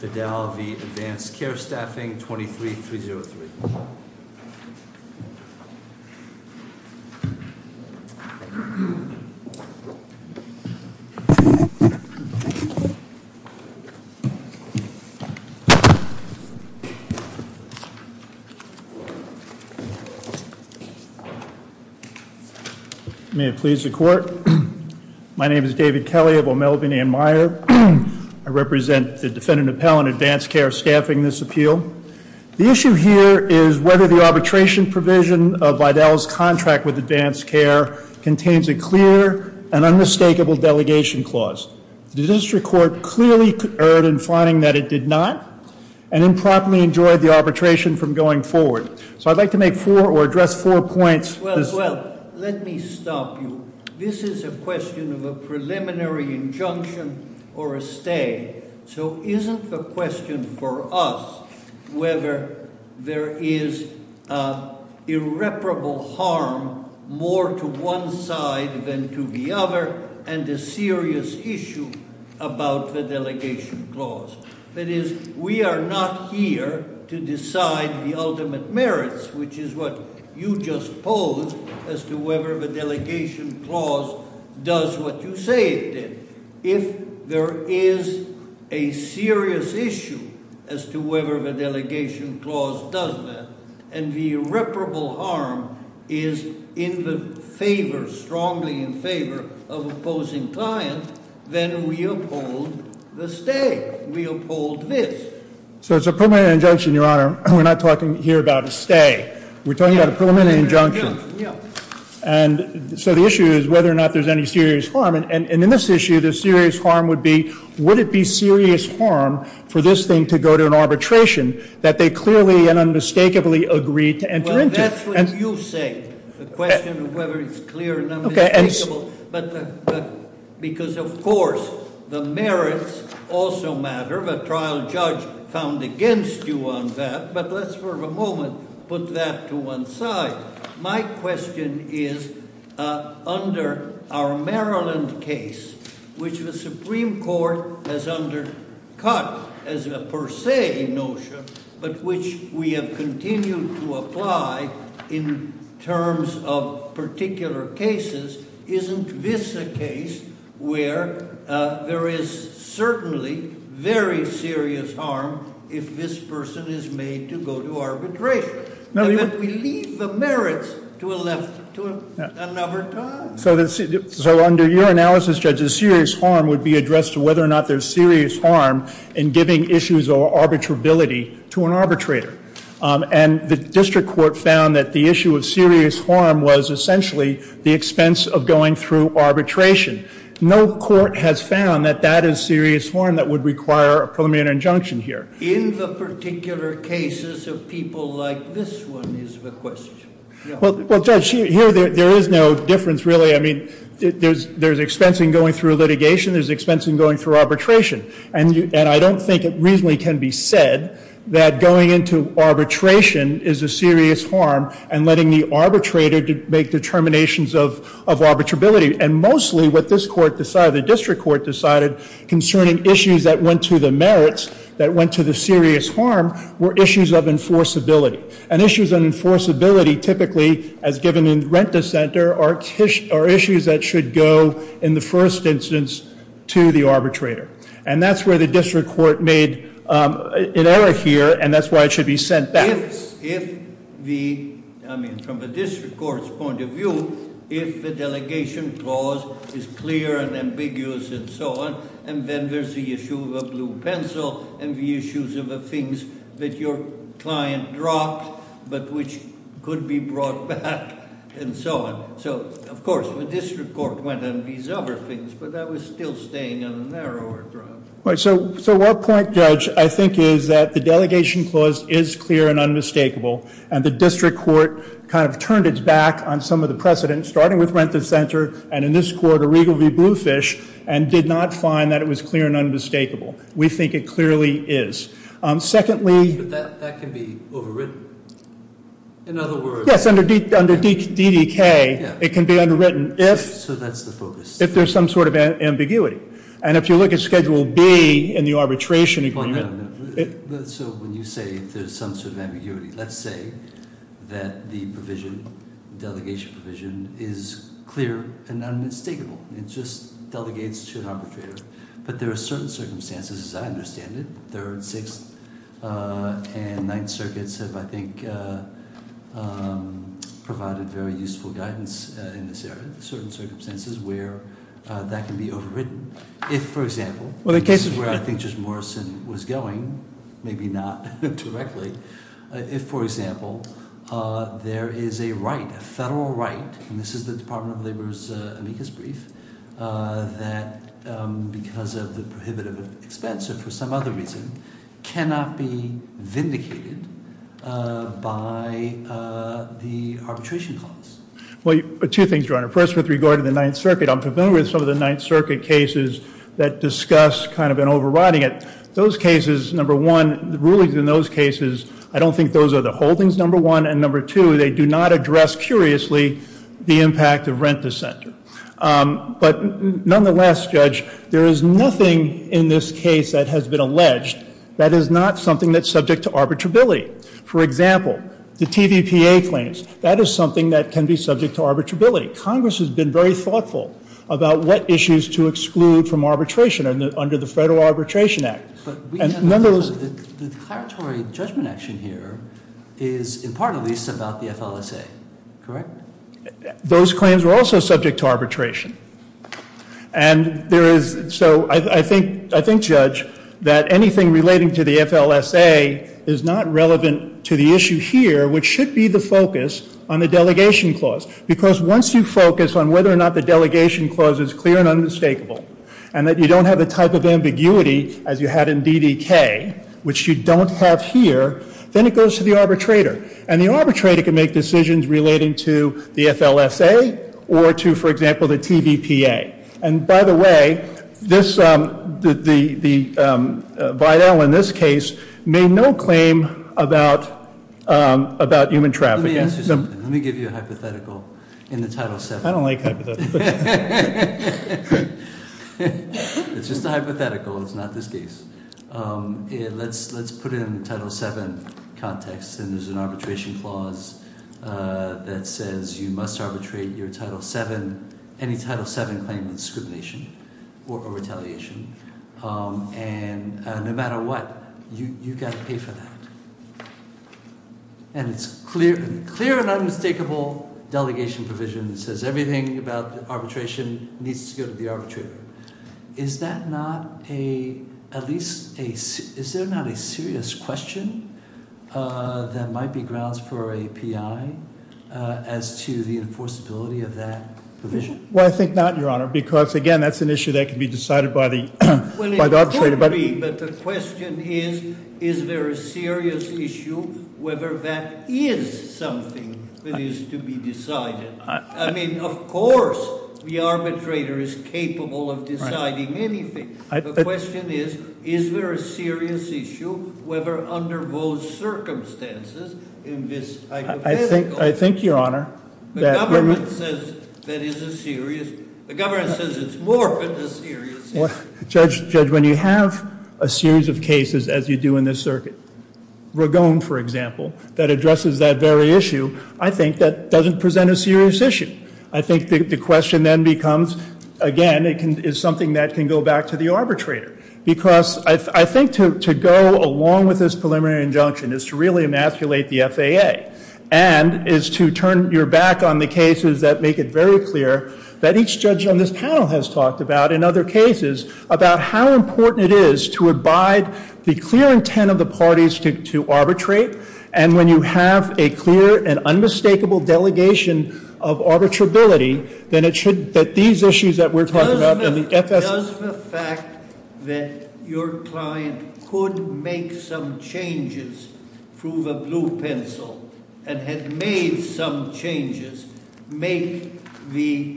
Vidal v. Advanced Care Staffing, 23303. May it please the court. My name is David Kelly of O'Melven and Meyer. I represent the defendant appellant, Advanced Care Staffing, in this appeal. The issue here is whether the arbitration provision of Vidal's contract with Advanced Care contains a clear and unmistakable delegation clause. The district court clearly erred in finding that it did not and improperly enjoyed the arbitration from going forward. So I'd like to make four or address four points. Well, let me stop you. This is a question of a preliminary injunction or a stay. So isn't the question for us whether there is irreparable harm more to one side than to the other and a serious issue about the delegation clause. That is, we are not here to decide the ultimate merits, which is what you just posed as to whether the delegation clause does what you say it did. If there is a serious issue as to whether the delegation clause does that, and the irreparable harm is in the favor, strongly in favor of opposing client, then we uphold the stay. We uphold this. So it's a preliminary injunction, Your Honor. We're not talking here about a stay. We're talking about a preliminary injunction. And so the issue is whether or not there's any serious harm. And in this issue, the serious harm would be, would it be serious harm for this thing to go to an arbitration that they clearly and unmistakably agreed to enter into? Well, that's what you say. The question of whether it's clear and unmistakable. But because of course, the merits also matter. The trial judge found against you on that. But let's for a moment put that to one side. My question is, under our Maryland case, which the Supreme Court has undercut as a per se notion, but which we have continued to apply in terms of particular cases. Isn't this a case where there is certainly very serious harm if this person is made to go to arbitration? And then we leave the merits to another time. So under your analysis, Judge, the serious harm would be addressed to whether or not there's serious harm in giving issues of arbitrability to an arbitrator. And the district court found that the issue of serious harm was essentially the expense of going through arbitration. No court has found that that is serious harm that would require a preliminary injunction here. In the particular cases of people like this one is the question. Well Judge, here there is no difference really. I mean, there's expense in going through litigation, there's expense in going through arbitration. And I don't think it reasonably can be said that going into arbitration is a serious harm and letting the arbitrator make determinations of arbitrability. And mostly what this court decided, the district court decided, concerning issues that went to the merits, that went to the serious harm, were issues of enforceability. And issues of enforceability typically, as given in Rent-a-Center, are issues that should go in the first instance to the arbitrator. And that's where the district court made an error here, and that's why it should be sent back. If the, I mean, from the district court's point of view, if the delegation clause is clear and ambiguous and so on, and then there's the issue of a blue pencil, and the issues of the things that your client dropped, but which could be brought back, and so on. So, of course, the district court went on these other things, but that was still staying on the narrower ground. So, our point, Judge, I think is that the delegation clause is clear and unmistakable. And the district court kind of turned its back on some of the precedents, starting with Rent-a-Center, and in this court, a regal reblue fish, and did not find that it was clear and unmistakable. We think it clearly is. Secondly- But that can be overridden, in other words- Yes, under DDK, it can be underwritten if- So that's the focus. If there's some sort of ambiguity. And if you look at Schedule B in the arbitration- Well, no, no. So when you say there's some sort of ambiguity, let's say that the provision, delegation provision, is clear and unmistakable, it just delegates to an arbitrator. But there are certain circumstances, as I understand it, Third, Sixth, and Provided very useful guidance in this area, certain circumstances where that can be overridden. If, for example- Well, the case is where I think Judge Morrison was going, maybe not directly. If, for example, there is a right, a federal right, and this is the Department of Labor's amicus brief, that because of the prohibitive expense, or for some other reason, cannot be vindicated by the arbitration clause. Well, two things, Your Honor. First, with regard to the Ninth Circuit, I'm familiar with some of the Ninth Circuit cases that discuss kind of an overriding it. Those cases, number one, the rulings in those cases, I don't think those are the holdings, number one. And number two, they do not address, curiously, the impact of rent dissenter. But nonetheless, Judge, there is nothing in this case that has been alleged that is not something that's subject to arbitrability. For example, the TVPA claims, that is something that can be subject to arbitrability. Congress has been very thoughtful about what issues to exclude from arbitration under the Federal Arbitration Act. And none of those- The declaratory judgment action here is, in part at least, about the FLSA, correct? Those claims were also subject to arbitration. And there is, so I think, Judge, that anything relating to the FLSA is not relevant to the issue here, which should be the focus on the delegation clause. Because once you focus on whether or not the delegation clause is clear and unmistakable, and that you don't have the type of ambiguity as you had in DDK, which you don't have here, then it goes to the arbitrator. And the arbitrator can make decisions relating to the FLSA, or to, for example, the TVPA. And by the way, the Vidal in this case made no claim about human traffic. Let me give you a hypothetical in the title seven. I don't like hypotheticals. It's just a hypothetical, it's not this case. Let's put it in the title seven context, and there's an arbitration clause that says you must arbitrate your title seven, any title seven claim of discrimination or retaliation, and no matter what, you've got to pay for that. And it's clear and unmistakable delegation provision that says everything about arbitration needs to go to the arbitrator. Is that not a, at least a, is there not a serious question that might be grounds for a PI as to the enforceability of that provision? Well, I think not, your honor, because again, that's an issue that can be decided by the arbitrator. Well, it could be, but the question is, is there a serious issue whether that is something that is to be decided? I mean, of course, the arbitrator is capable of deciding anything. The question is, is there a serious issue, whether under those circumstances in this hypothetical. I think, your honor, that- The government says that is a serious, the government says it's more than a serious issue. Judge, when you have a series of cases as you do in this circuit, Ragon, for example, that addresses that very issue, I think that doesn't present a serious issue. I think the question then becomes, again, is something that can go back to the arbitrator. Because I think to go along with this preliminary injunction is to really emasculate the FAA. And is to turn your back on the cases that make it very clear that each judge on this panel has talked about, in other cases, about how important it is to abide the clear intent of the parties to arbitrate. And when you have a clear and unmistakable delegation of arbitrability, then it should, that these issues that we're talking about- Does the fact that your client could make some changes through the blue pencil and had made some changes make the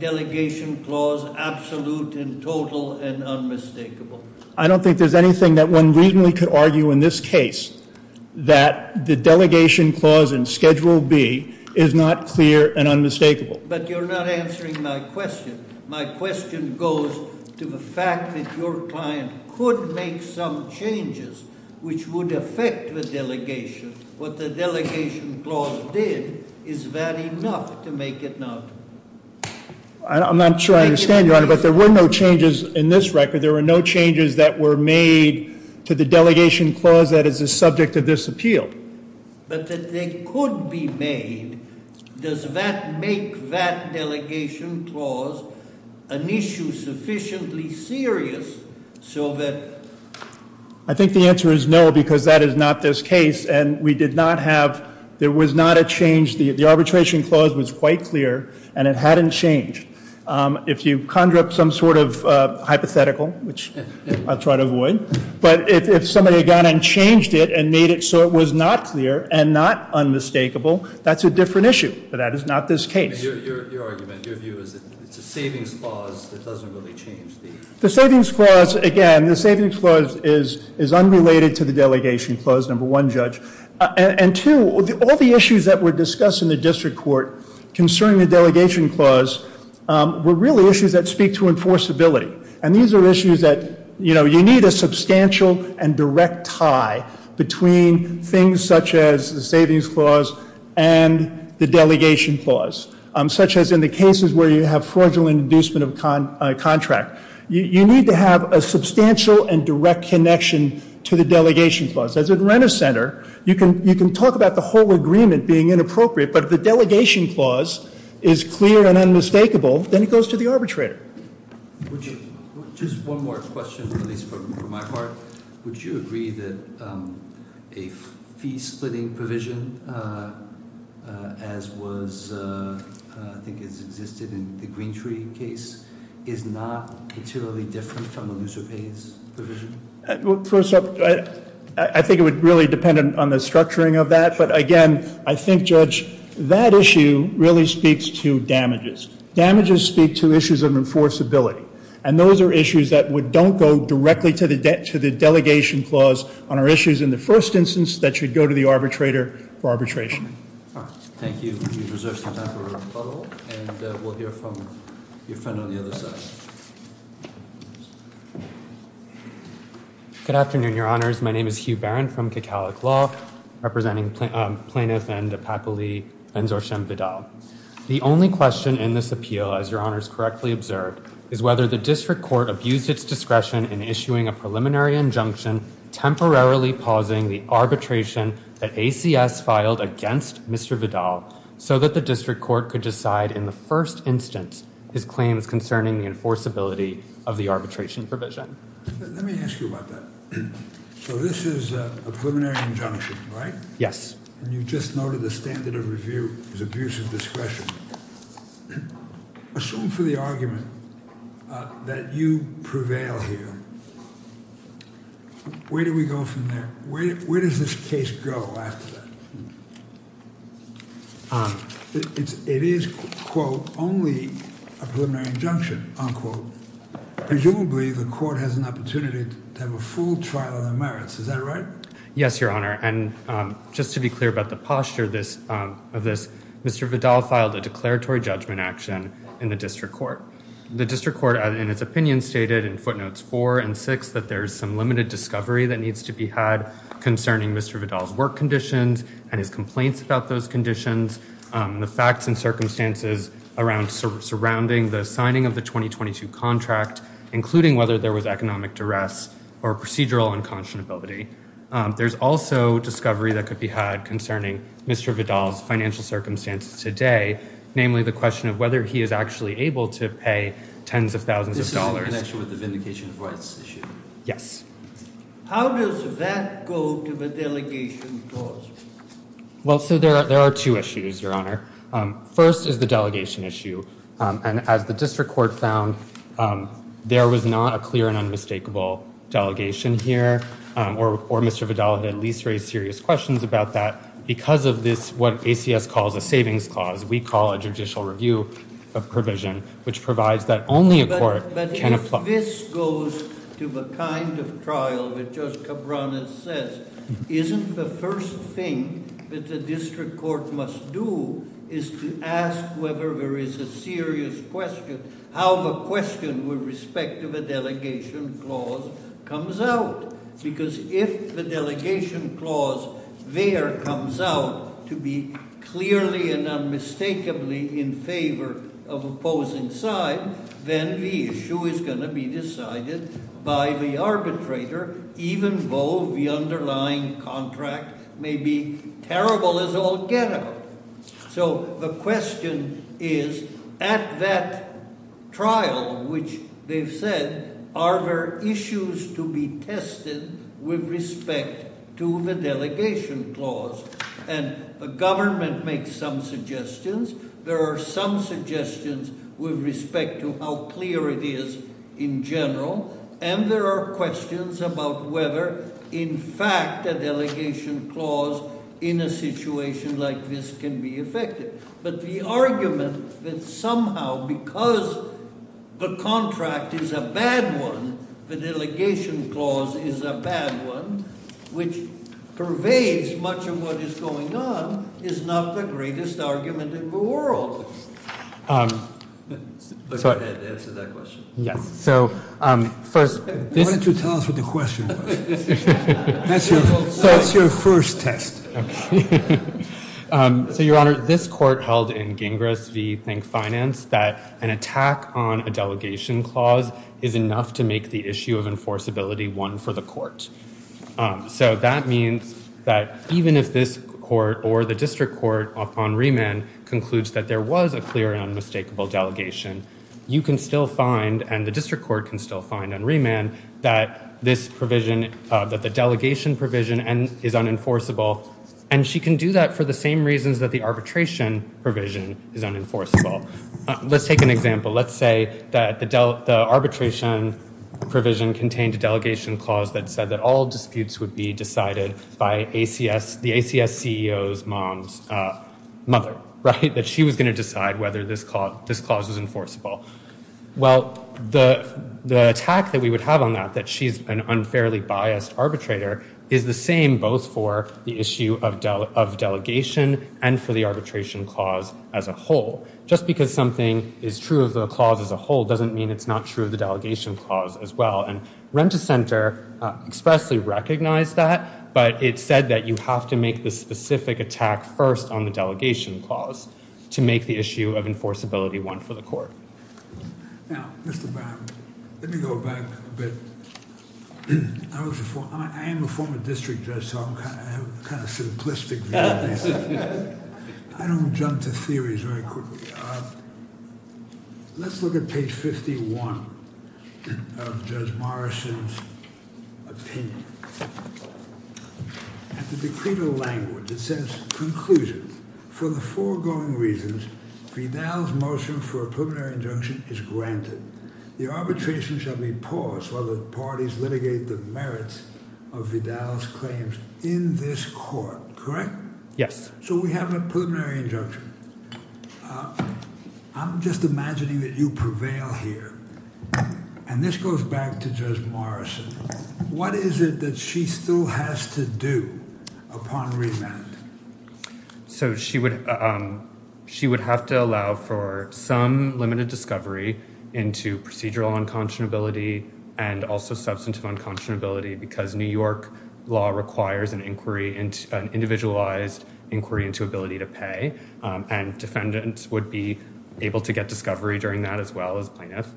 delegation clause absolute and total and unmistakable? I don't think there's anything that one reasonably could argue in this case that the delegation clause in schedule B is not clear and unmistakable. But you're not answering my question. My question goes to the fact that your client could make some changes which would affect the delegation. What the delegation clause did, is that enough to make it not? I'm not sure I understand, Your Honor, but there were no changes in this record. There were no changes that were made to the delegation clause that is the subject of this appeal. But that they could be made, does that make that delegation clause an issue sufficiently serious so that- I think the answer is no, because that is not this case. And we did not have, there was not a change, the arbitration clause was quite clear and it hadn't changed. If you conjure up some sort of hypothetical, which I'll try to avoid. But if somebody had gone and changed it and made it so it was not clear and not unmistakable, that's a different issue. But that is not this case. Your argument, your view is that it's a savings clause that doesn't really change the- The savings clause, again, the savings clause is unrelated to the delegation clause, number one, judge. And two, all the issues that were discussed in the district court concerning the delegation clause were really issues that speak to enforceability. And these are issues that you need a substantial and direct tie between things such as the savings clause and the delegation clause. Such as in the cases where you have fraudulent inducement of a contract. You need to have a substantial and direct connection to the delegation clause. As a rent-a-center, you can talk about the whole agreement being inappropriate, but if the delegation clause is clear and unmistakable, then it goes to the arbitrator. Just one more question, at least for my part. Would you agree that a fee-splitting provision, as was, I think it's existed in the Greentree case, is not particularly different from the looser pays provision? First up, I think it would really depend on the structuring of that. But again, I think, Judge, that issue really speaks to damages. Damages speak to issues of enforceability. And those are issues that would don't go directly to the delegation clause on our issues. In the first instance, that should go to the arbitrator for arbitration. All right, thank you. You've reserved some time for rebuttal. And we'll hear from your friend on the other side. Good afternoon, your honors. My name is Hugh Barron from Kekalik Law, representing plaintiff and the faculty, Enzor Shem Vidal. The only question in this appeal, as your honors correctly observed, is whether the district court abused its discretion in issuing a preliminary injunction temporarily pausing the arbitration that ACS filed against Mr. Vidal. So that the district court could decide in the first instance, his claims concerning the enforceability of the arbitration provision. Let me ask you about that. So this is a preliminary injunction, right? Yes. And you just noted the standard of review is abuse of discretion. Assume for the argument that you prevail here. Where do we go from there? Where does this case go after that? It is, quote, only a preliminary injunction, unquote. Presumably, the court has an opportunity to have a full trial on the merits. Is that right? Yes, your honor. And just to be clear about the posture of this, Mr. Vidal filed a declaratory judgment action in the district court. The district court, in its opinion, stated in footnotes four and that needs to be had concerning Mr. Vidal's work conditions and his complaints about those conditions. The facts and circumstances surrounding the signing of the 2022 contract, including whether there was economic duress or procedural unconscionability. There's also discovery that could be had concerning Mr. Vidal's financial circumstances today, namely the question of whether he is actually able to pay tens of thousands of dollars. This is in connection with the vindication of rights issue. Yes. How does that go to the delegation clause? Well, so there are two issues, your honor. First is the delegation issue. And as the district court found, there was not a clear and unmistakable delegation here. Or Mr. Vidal had at least raised serious questions about that. Because of this, what ACS calls a savings clause, we call a judicial review of provision, which provides that only a court can- Can apply. But if this goes to the kind of trial that Judge Cabranes says, isn't the first thing that the district court must do is to ask whether there is a serious question, how the question with respect to the delegation clause comes out. Because if the delegation clause there comes out to be clearly and the issue is going to be decided by the arbitrator, even though the underlying contract may be terrible as all get out. So the question is, at that trial, which they've said, are there issues to be tested with respect to the delegation clause? And the government makes some suggestions. There are some suggestions with respect to how clear it is in general. And there are questions about whether, in fact, a delegation clause in a situation like this can be effective. But the argument that somehow, because the contract is a bad one, the delegation clause is a bad one, which pervades much of what is going on, is not the greatest argument in the world. But go ahead, answer that question. Yes, so first- Why don't you tell us what the question was? That's your first test. Okay. So, Your Honor, this court held in Gingras v. Think Finance that an attack on a delegation clause is enough to make the issue of enforceability one for the court. So that means that even if this court or the district court upon remand concludes that there was a clear and unmistakable delegation, you can still find, and the district court can still find on remand, that this provision, that the delegation provision is unenforceable. And she can do that for the same reasons that the arbitration provision is unenforceable. Let's take an example. Let's say that the arbitration provision contained a delegation clause that said that all disputes would be decided by the ACS CEO's mom's mother, right? That she was going to decide whether this clause was enforceable. Well, the attack that we would have on that, that she's an unfairly biased arbitrator, is the same both for the issue of delegation and for the arbitration clause as a whole. Just because something is true of the clause as a whole doesn't mean it's not true of the delegation clause as well. And Rent-A-Center expressly recognized that, but it said that you have to make the specific attack first on the delegation clause to make the issue of enforceability one for the court. Now, Mr. Brown, let me go back a bit. I am a former district judge, so I'm kind of simplistic. I don't jump to theories very quickly. Let's look at page 51 of Judge Morrison's opinion. At the decree of the language, it says, Conclusion, for the foregoing reasons, Vidal's motion for a preliminary injunction is granted. The arbitration shall be paused while the parties litigate the merits of Vidal's claims in this court, correct? Yes. So we have a preliminary injunction. I'm just imagining that you prevail here. And this goes back to Judge Morrison. What is it that she still has to do upon remand? So she would have to allow for some limited discovery into procedural unconscionability and also substantive unconscionability because New York law requires an individualized inquiry into ability to pay. And defendants would be able to get discovery during that as well as plaintiffs.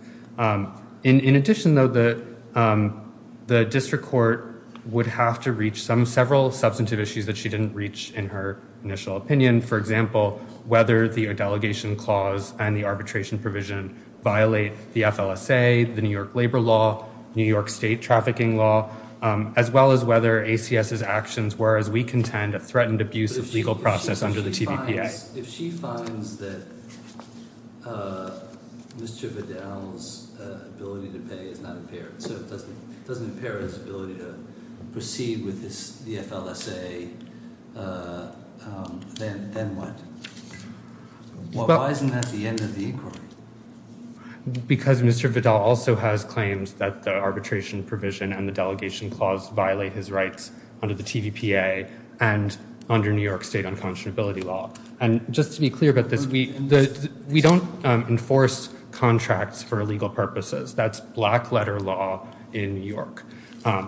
In addition, though, the district court would have to reach several substantive issues that she didn't reach in her initial opinion, for example, whether the delegation clause and the arbitration provision violate the FLSA, the New York labor law, New York state trafficking law, as well as whether ACS's actions were, as far as we contend, a threatened abuse of legal process under the TVPA. If she finds that Mr. Vidal's ability to pay is not impaired, so it doesn't impair his ability to proceed with the FLSA, then what? Why isn't that the end of the inquiry? Because Mr. Vidal also has claims that the arbitration provision and the delegation clause violate his rights under the TVPA and under New York state unconscionability law. And just to be clear about this, we don't enforce contracts for illegal purposes. That's black letter law in New York,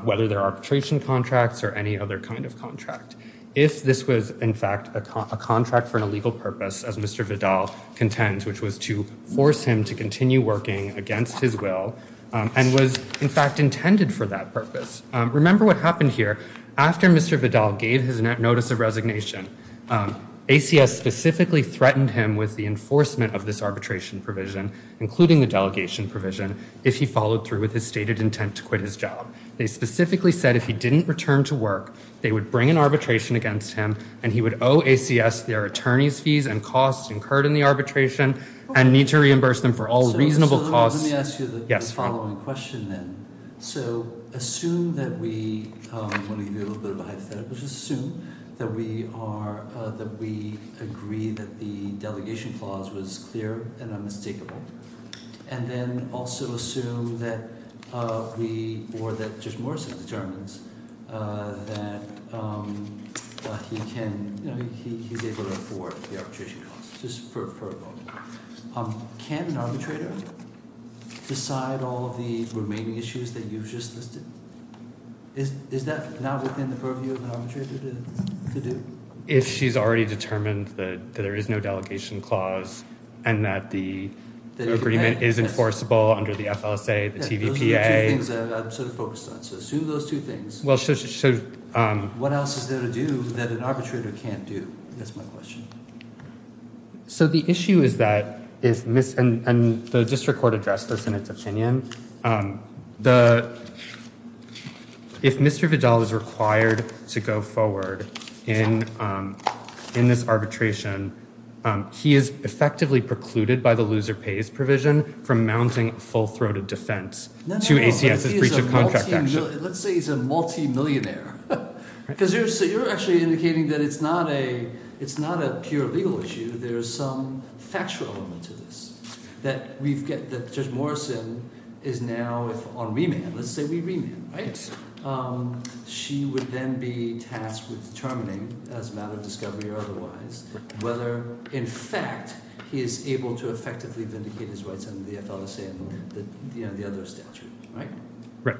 whether they're arbitration contracts or any other kind of contract. If this was, in fact, a contract for an illegal purpose, as Mr. Vidal contends, which was to force him to continue working against his will and was, in fact, intended for that purpose. Remember what happened here. After Mr. Vidal gave his notice of resignation, ACS specifically threatened him with the enforcement of this arbitration provision, including the delegation provision, if he followed through with his stated intent to quit his job. They specifically said if he didn't return to work, they would bring an arbitration against him, and he would owe ACS their attorney's fees and costs incurred in the arbitration and need to reimburse them for all reasonable costs. Let me ask you the following question then. So assume that we want to give you a little bit of a hypothetical. Just assume that we agree that the delegation clause was clear and unmistakable, and then also assume that we or that Judge Morrison determines that he can – he's able to afford the arbitration costs, just for a vote. Can an arbitrator decide all of the remaining issues that you've just listed? Is that not within the purview of an arbitrator to do? If she's already determined that there is no delegation clause and that the agreement is enforceable under the FLSA, the TVPA. Those are the two things that I'm sort of focused on. So assume those two things. What else is there to do that an arbitrator can't do? That's my question. So the issue is that – and the district court addressed this in its opinion. If Mr. Vidal is required to go forward in this arbitration, he is effectively precluded by the loser pays provision from mounting full-throated defense to ACS's breach of contract action. Let's say he's a multimillionaire. Because you're actually indicating that it's not a pure legal issue. There is some factual element to this that we've got – that Judge Morrison is now on remand. Let's say we remand, right? She would then be tasked with determining as a matter of discovery or otherwise whether in fact he is able to effectively vindicate his rights under the FLSA and the other statute, right? Right.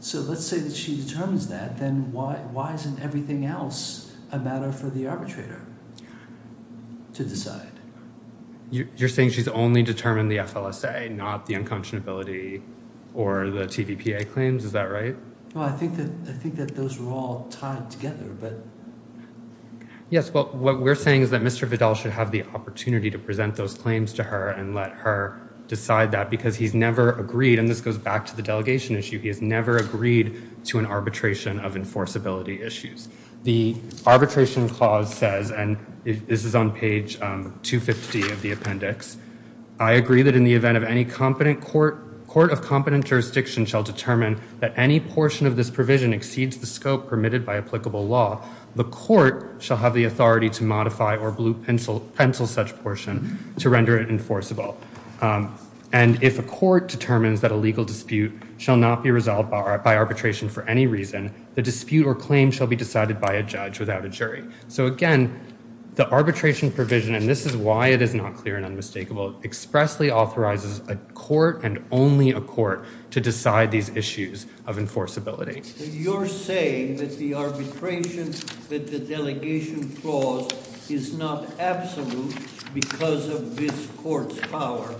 So let's say that she determines that. Then why isn't everything else a matter for the arbitrator to decide? You're saying she's only determined the FLSA, not the unconscionability or the TVPA claims? Is that right? Well, I think that those are all tied together. Yes, well, what we're saying is that Mr. Vidal should have the opportunity to present those claims to her and let her decide that because he's never agreed – and this goes back to the delegation issue – he has never agreed to an arbitration of enforceability issues. The arbitration clause says, and this is on page 250 of the appendix, I agree that in the event of any competent court – court of competent jurisdiction shall determine that any portion of this provision exceeds the scope permitted by applicable law, the court shall have the authority to modify or blue pencil such portion to render it enforceable. And if a court determines that a legal dispute shall not be resolved by arbitration for any reason, the dispute or claim shall be decided by a judge without a jury. So again, the arbitration provision – and this is why it is not clear and unmistakable – expressly authorizes a court and only a court to decide these issues of enforceability. You're saying that the arbitration that the delegation clause is not absolute because of this court's power,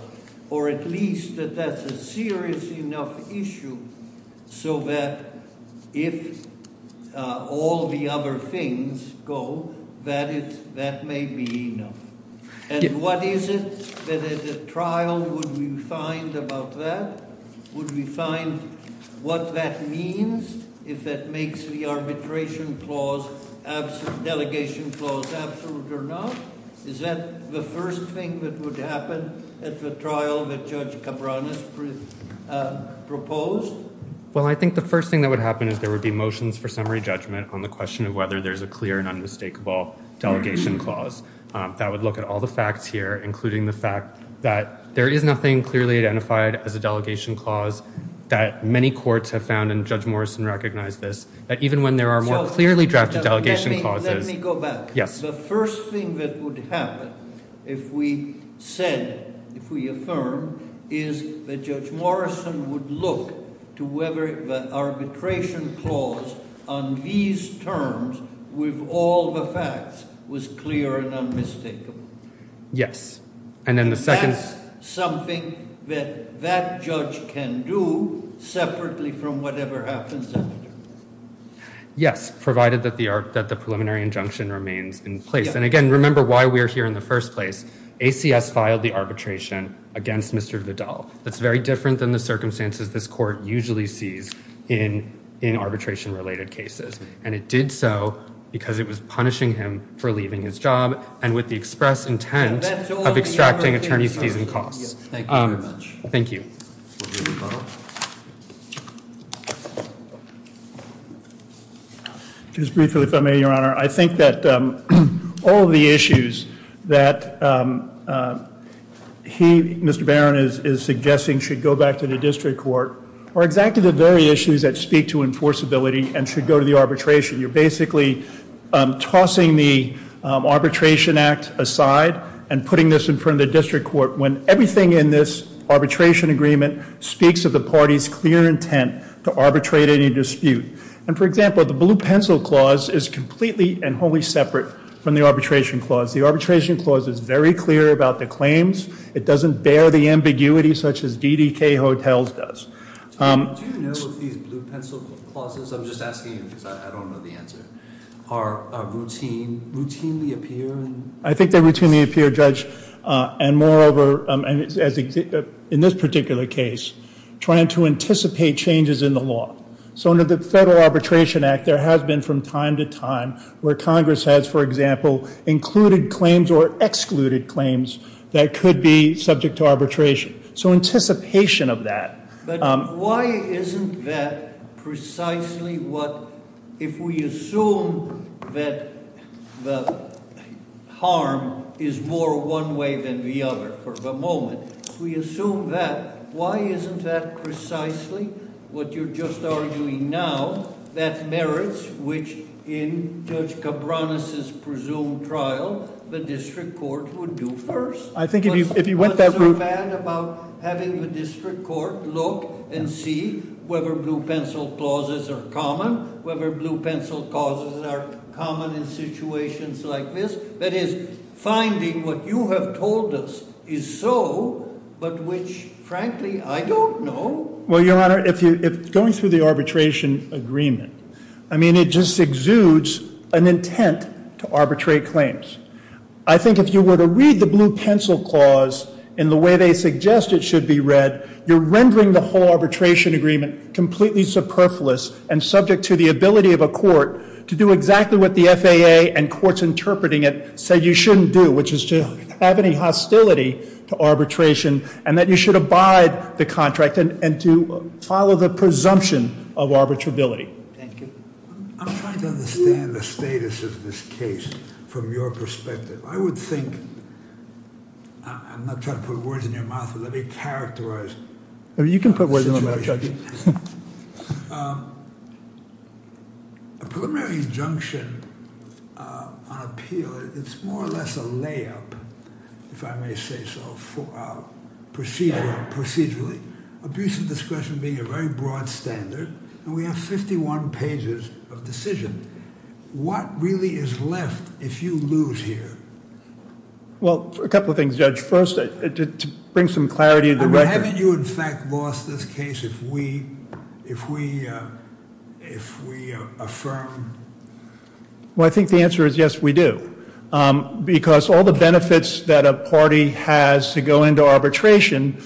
or at least that that's a serious enough issue so that if all the other things go, that may be enough. And what is it that at the trial would we find about that? Would we find what that means if that makes the arbitration clause – absolute or not? Is that the first thing that would happen at the trial that Judge Cabranes proposed? Well, I think the first thing that would happen is there would be motions for summary judgment on the question of whether there's a clear and unmistakable delegation clause. That would look at all the facts here, including the fact that there is nothing clearly identified as a delegation clause that many courts have found, and Judge Morrison recognized this, that even when there are more clearly drafted delegation clauses – the first thing that would happen if we said, if we affirmed, is that Judge Morrison would look to whether the arbitration clause on these terms with all the facts was clear and unmistakable. Yes. And that's something that that judge can do separately from whatever happens after. Yes, provided that the preliminary injunction remains in place. And, again, remember why we are here in the first place. ACS filed the arbitration against Mr. Vidal. That's very different than the circumstances this court usually sees in arbitration-related cases. And it did so because it was punishing him for leaving his job and with the express intent of extracting attorney's fees and costs. Thank you very much. Thank you. Just briefly, if I may, Your Honor, I think that all of the issues that he, Mr. Barron, is suggesting should go back to the district court are exactly the very issues that speak to enforceability and should go to the arbitration. You're basically tossing the Arbitration Act aside and putting this in front of the district court when everything in this arbitration agreement speaks of the party's clear intent to arbitrate any dispute. And, for example, the Blue Pencil Clause is completely and wholly separate from the Arbitration Clause. The Arbitration Clause is very clear about the claims. It doesn't bear the ambiguity such as DDK Hotels does. Do you know if these Blue Pencil Clauses, I'm just asking you because I don't know the answer, I think they routinely appear, Judge. And moreover, in this particular case, trying to anticipate changes in the law. So under the Federal Arbitration Act, there has been from time to time where Congress has, for example, included claims or excluded claims that could be subject to arbitration. So anticipation of that. But why isn't that precisely what, if we assume that the harm is more one way than the other for the moment, if we assume that, why isn't that precisely what you're just arguing now? That merits, which in Judge Cabranes' presumed trial, the district court would do first? I think if you went that route... What's so bad about having the district court look and see whether Blue Pencil Clauses are common? Whether Blue Pencil Clauses are common in situations like this? That is, finding what you have told us is so, but which, frankly, I don't know. Well, Your Honor, going through the arbitration agreement, I mean, it just exudes an intent to arbitrate claims. I think if you were to read the Blue Pencil Clause in the way they suggest it should be read, you're rendering the whole arbitration agreement completely superfluous and subject to the ability of a court to do exactly what the FAA and courts interpreting it say you shouldn't do, which is to have any hostility to arbitration, and that you should abide the contract and to follow the presumption of arbitrability. Thank you. I'm trying to understand the status of this case from your perspective. I would think, I'm not trying to put words in your mouth, but let me characterize the situation. You can put words in my mouth, Judge. A preliminary injunction on appeal, it's more or less a layup, if I may say so, procedurally. Abuse of discretion being a very broad standard, and we have 51 pages of decision. What really is left if you lose here? Well, a couple of things, Judge. First, to bring some clarity to the record. I mean, haven't you in fact lost this case if we affirm? Well, I think the answer is yes, we do. Because all the benefits that a party has to go into arbitration,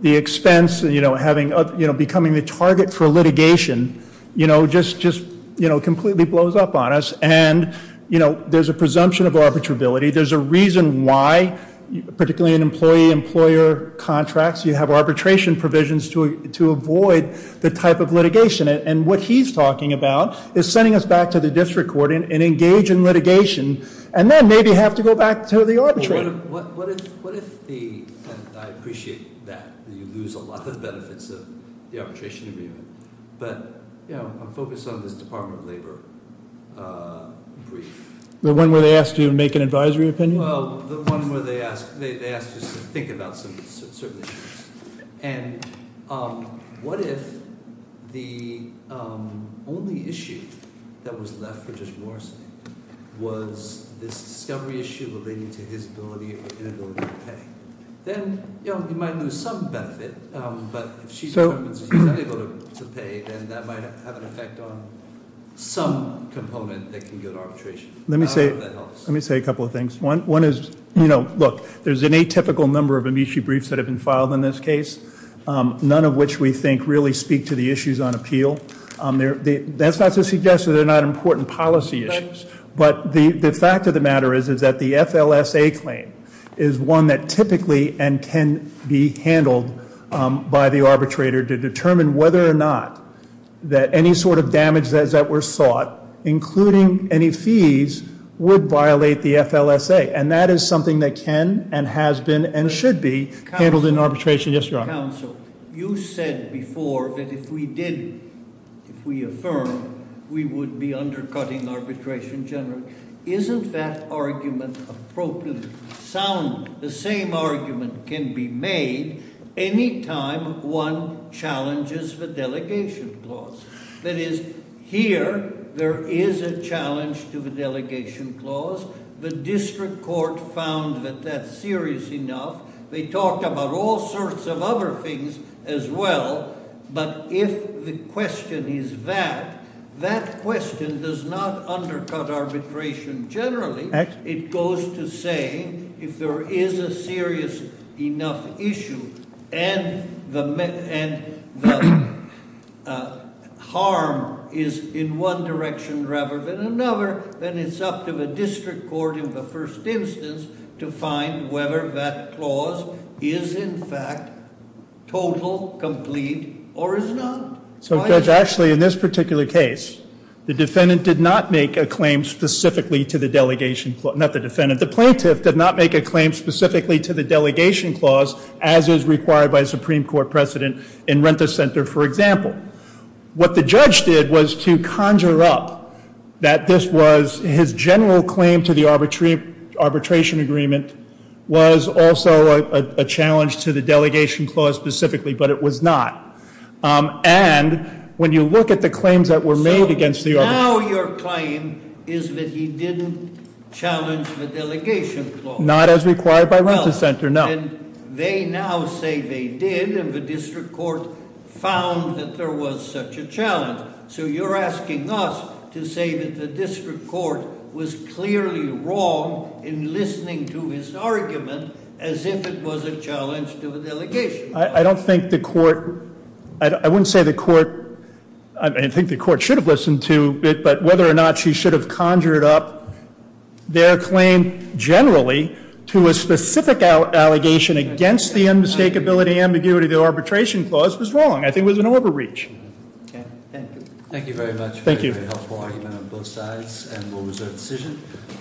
the expense of becoming the target for litigation just completely blows up on us. And there's a presumption of arbitrability. There's a reason why, particularly in employee-employer contracts, you have arbitration provisions to avoid the type of litigation. And what he's talking about is sending us back to the district court and engage in litigation, and then maybe have to go back to the arbitration. I appreciate that, that you lose a lot of the benefits of the arbitration agreement. But I'm focused on this Department of Labor brief. The one where they ask you to make an advisory opinion? Well, the one where they ask you to think about certain issues. And what if the only issue that was left for Judge Morrison was this discovery issue relating to his ability or inability to pay? Then, you know, you might lose some benefit, but if she's not able to pay, then that might have an effect on some component that can go to arbitration. I don't know if that helps. Let me say a couple of things. One is, you know, look, there's an atypical number of amici briefs that have been filed in this case, none of which we think really speak to the issues on appeal. That's not to suggest that they're not important policy issues, but the fact of the matter is that the FLSA claim is one that typically and can be handled by the arbitrator to determine whether or not that any sort of damage that were sought, including any fees, would violate the FLSA. And that is something that can and has been and should be handled in arbitration. Yes, Your Honor. Counsel, you said before that if we did, if we affirm, we would be undercutting arbitration generally. Isn't that argument appropriate? The same argument can be made any time one challenges the delegation clause. That is, here there is a challenge to the delegation clause. The district court found that that's serious enough. They talked about all sorts of other things as well. But if the question is that, that question does not undercut arbitration generally. It goes to saying if there is a serious enough issue and the harm is in one direction rather than another, then it's up to the district court in the first instance to find whether that clause is in fact total, complete, or is not. So Judge Ashley, in this particular case, the defendant did not make a claim specifically to the delegation clause. Not the defendant. The plaintiff did not make a claim specifically to the delegation clause, as is required by a Supreme Court precedent in Rent-a-Center, for example. What the judge did was to conjure up that this was his general claim to the arbitration agreement was also a challenge to the delegation clause specifically, but it was not. And when you look at the claims that were made against the- So now your claim is that he didn't challenge the delegation clause. Not as required by Rent-a-Center, no. Well, then they now say they did, and the district court found that there was such a challenge. So you're asking us to say that the district court was clearly wrong in listening to his argument as if it was a challenge to the delegation clause. I don't think the court- I wouldn't say the court- I think the court should have listened to it, but whether or not she should have conjured up their claim generally to a specific allegation against the unmistakability ambiguity of the arbitration clause was wrong. I think it was an overreach. Okay, thank you. Thank you very much. Thank you. A very helpful argument on both sides, and we'll reserve the decision.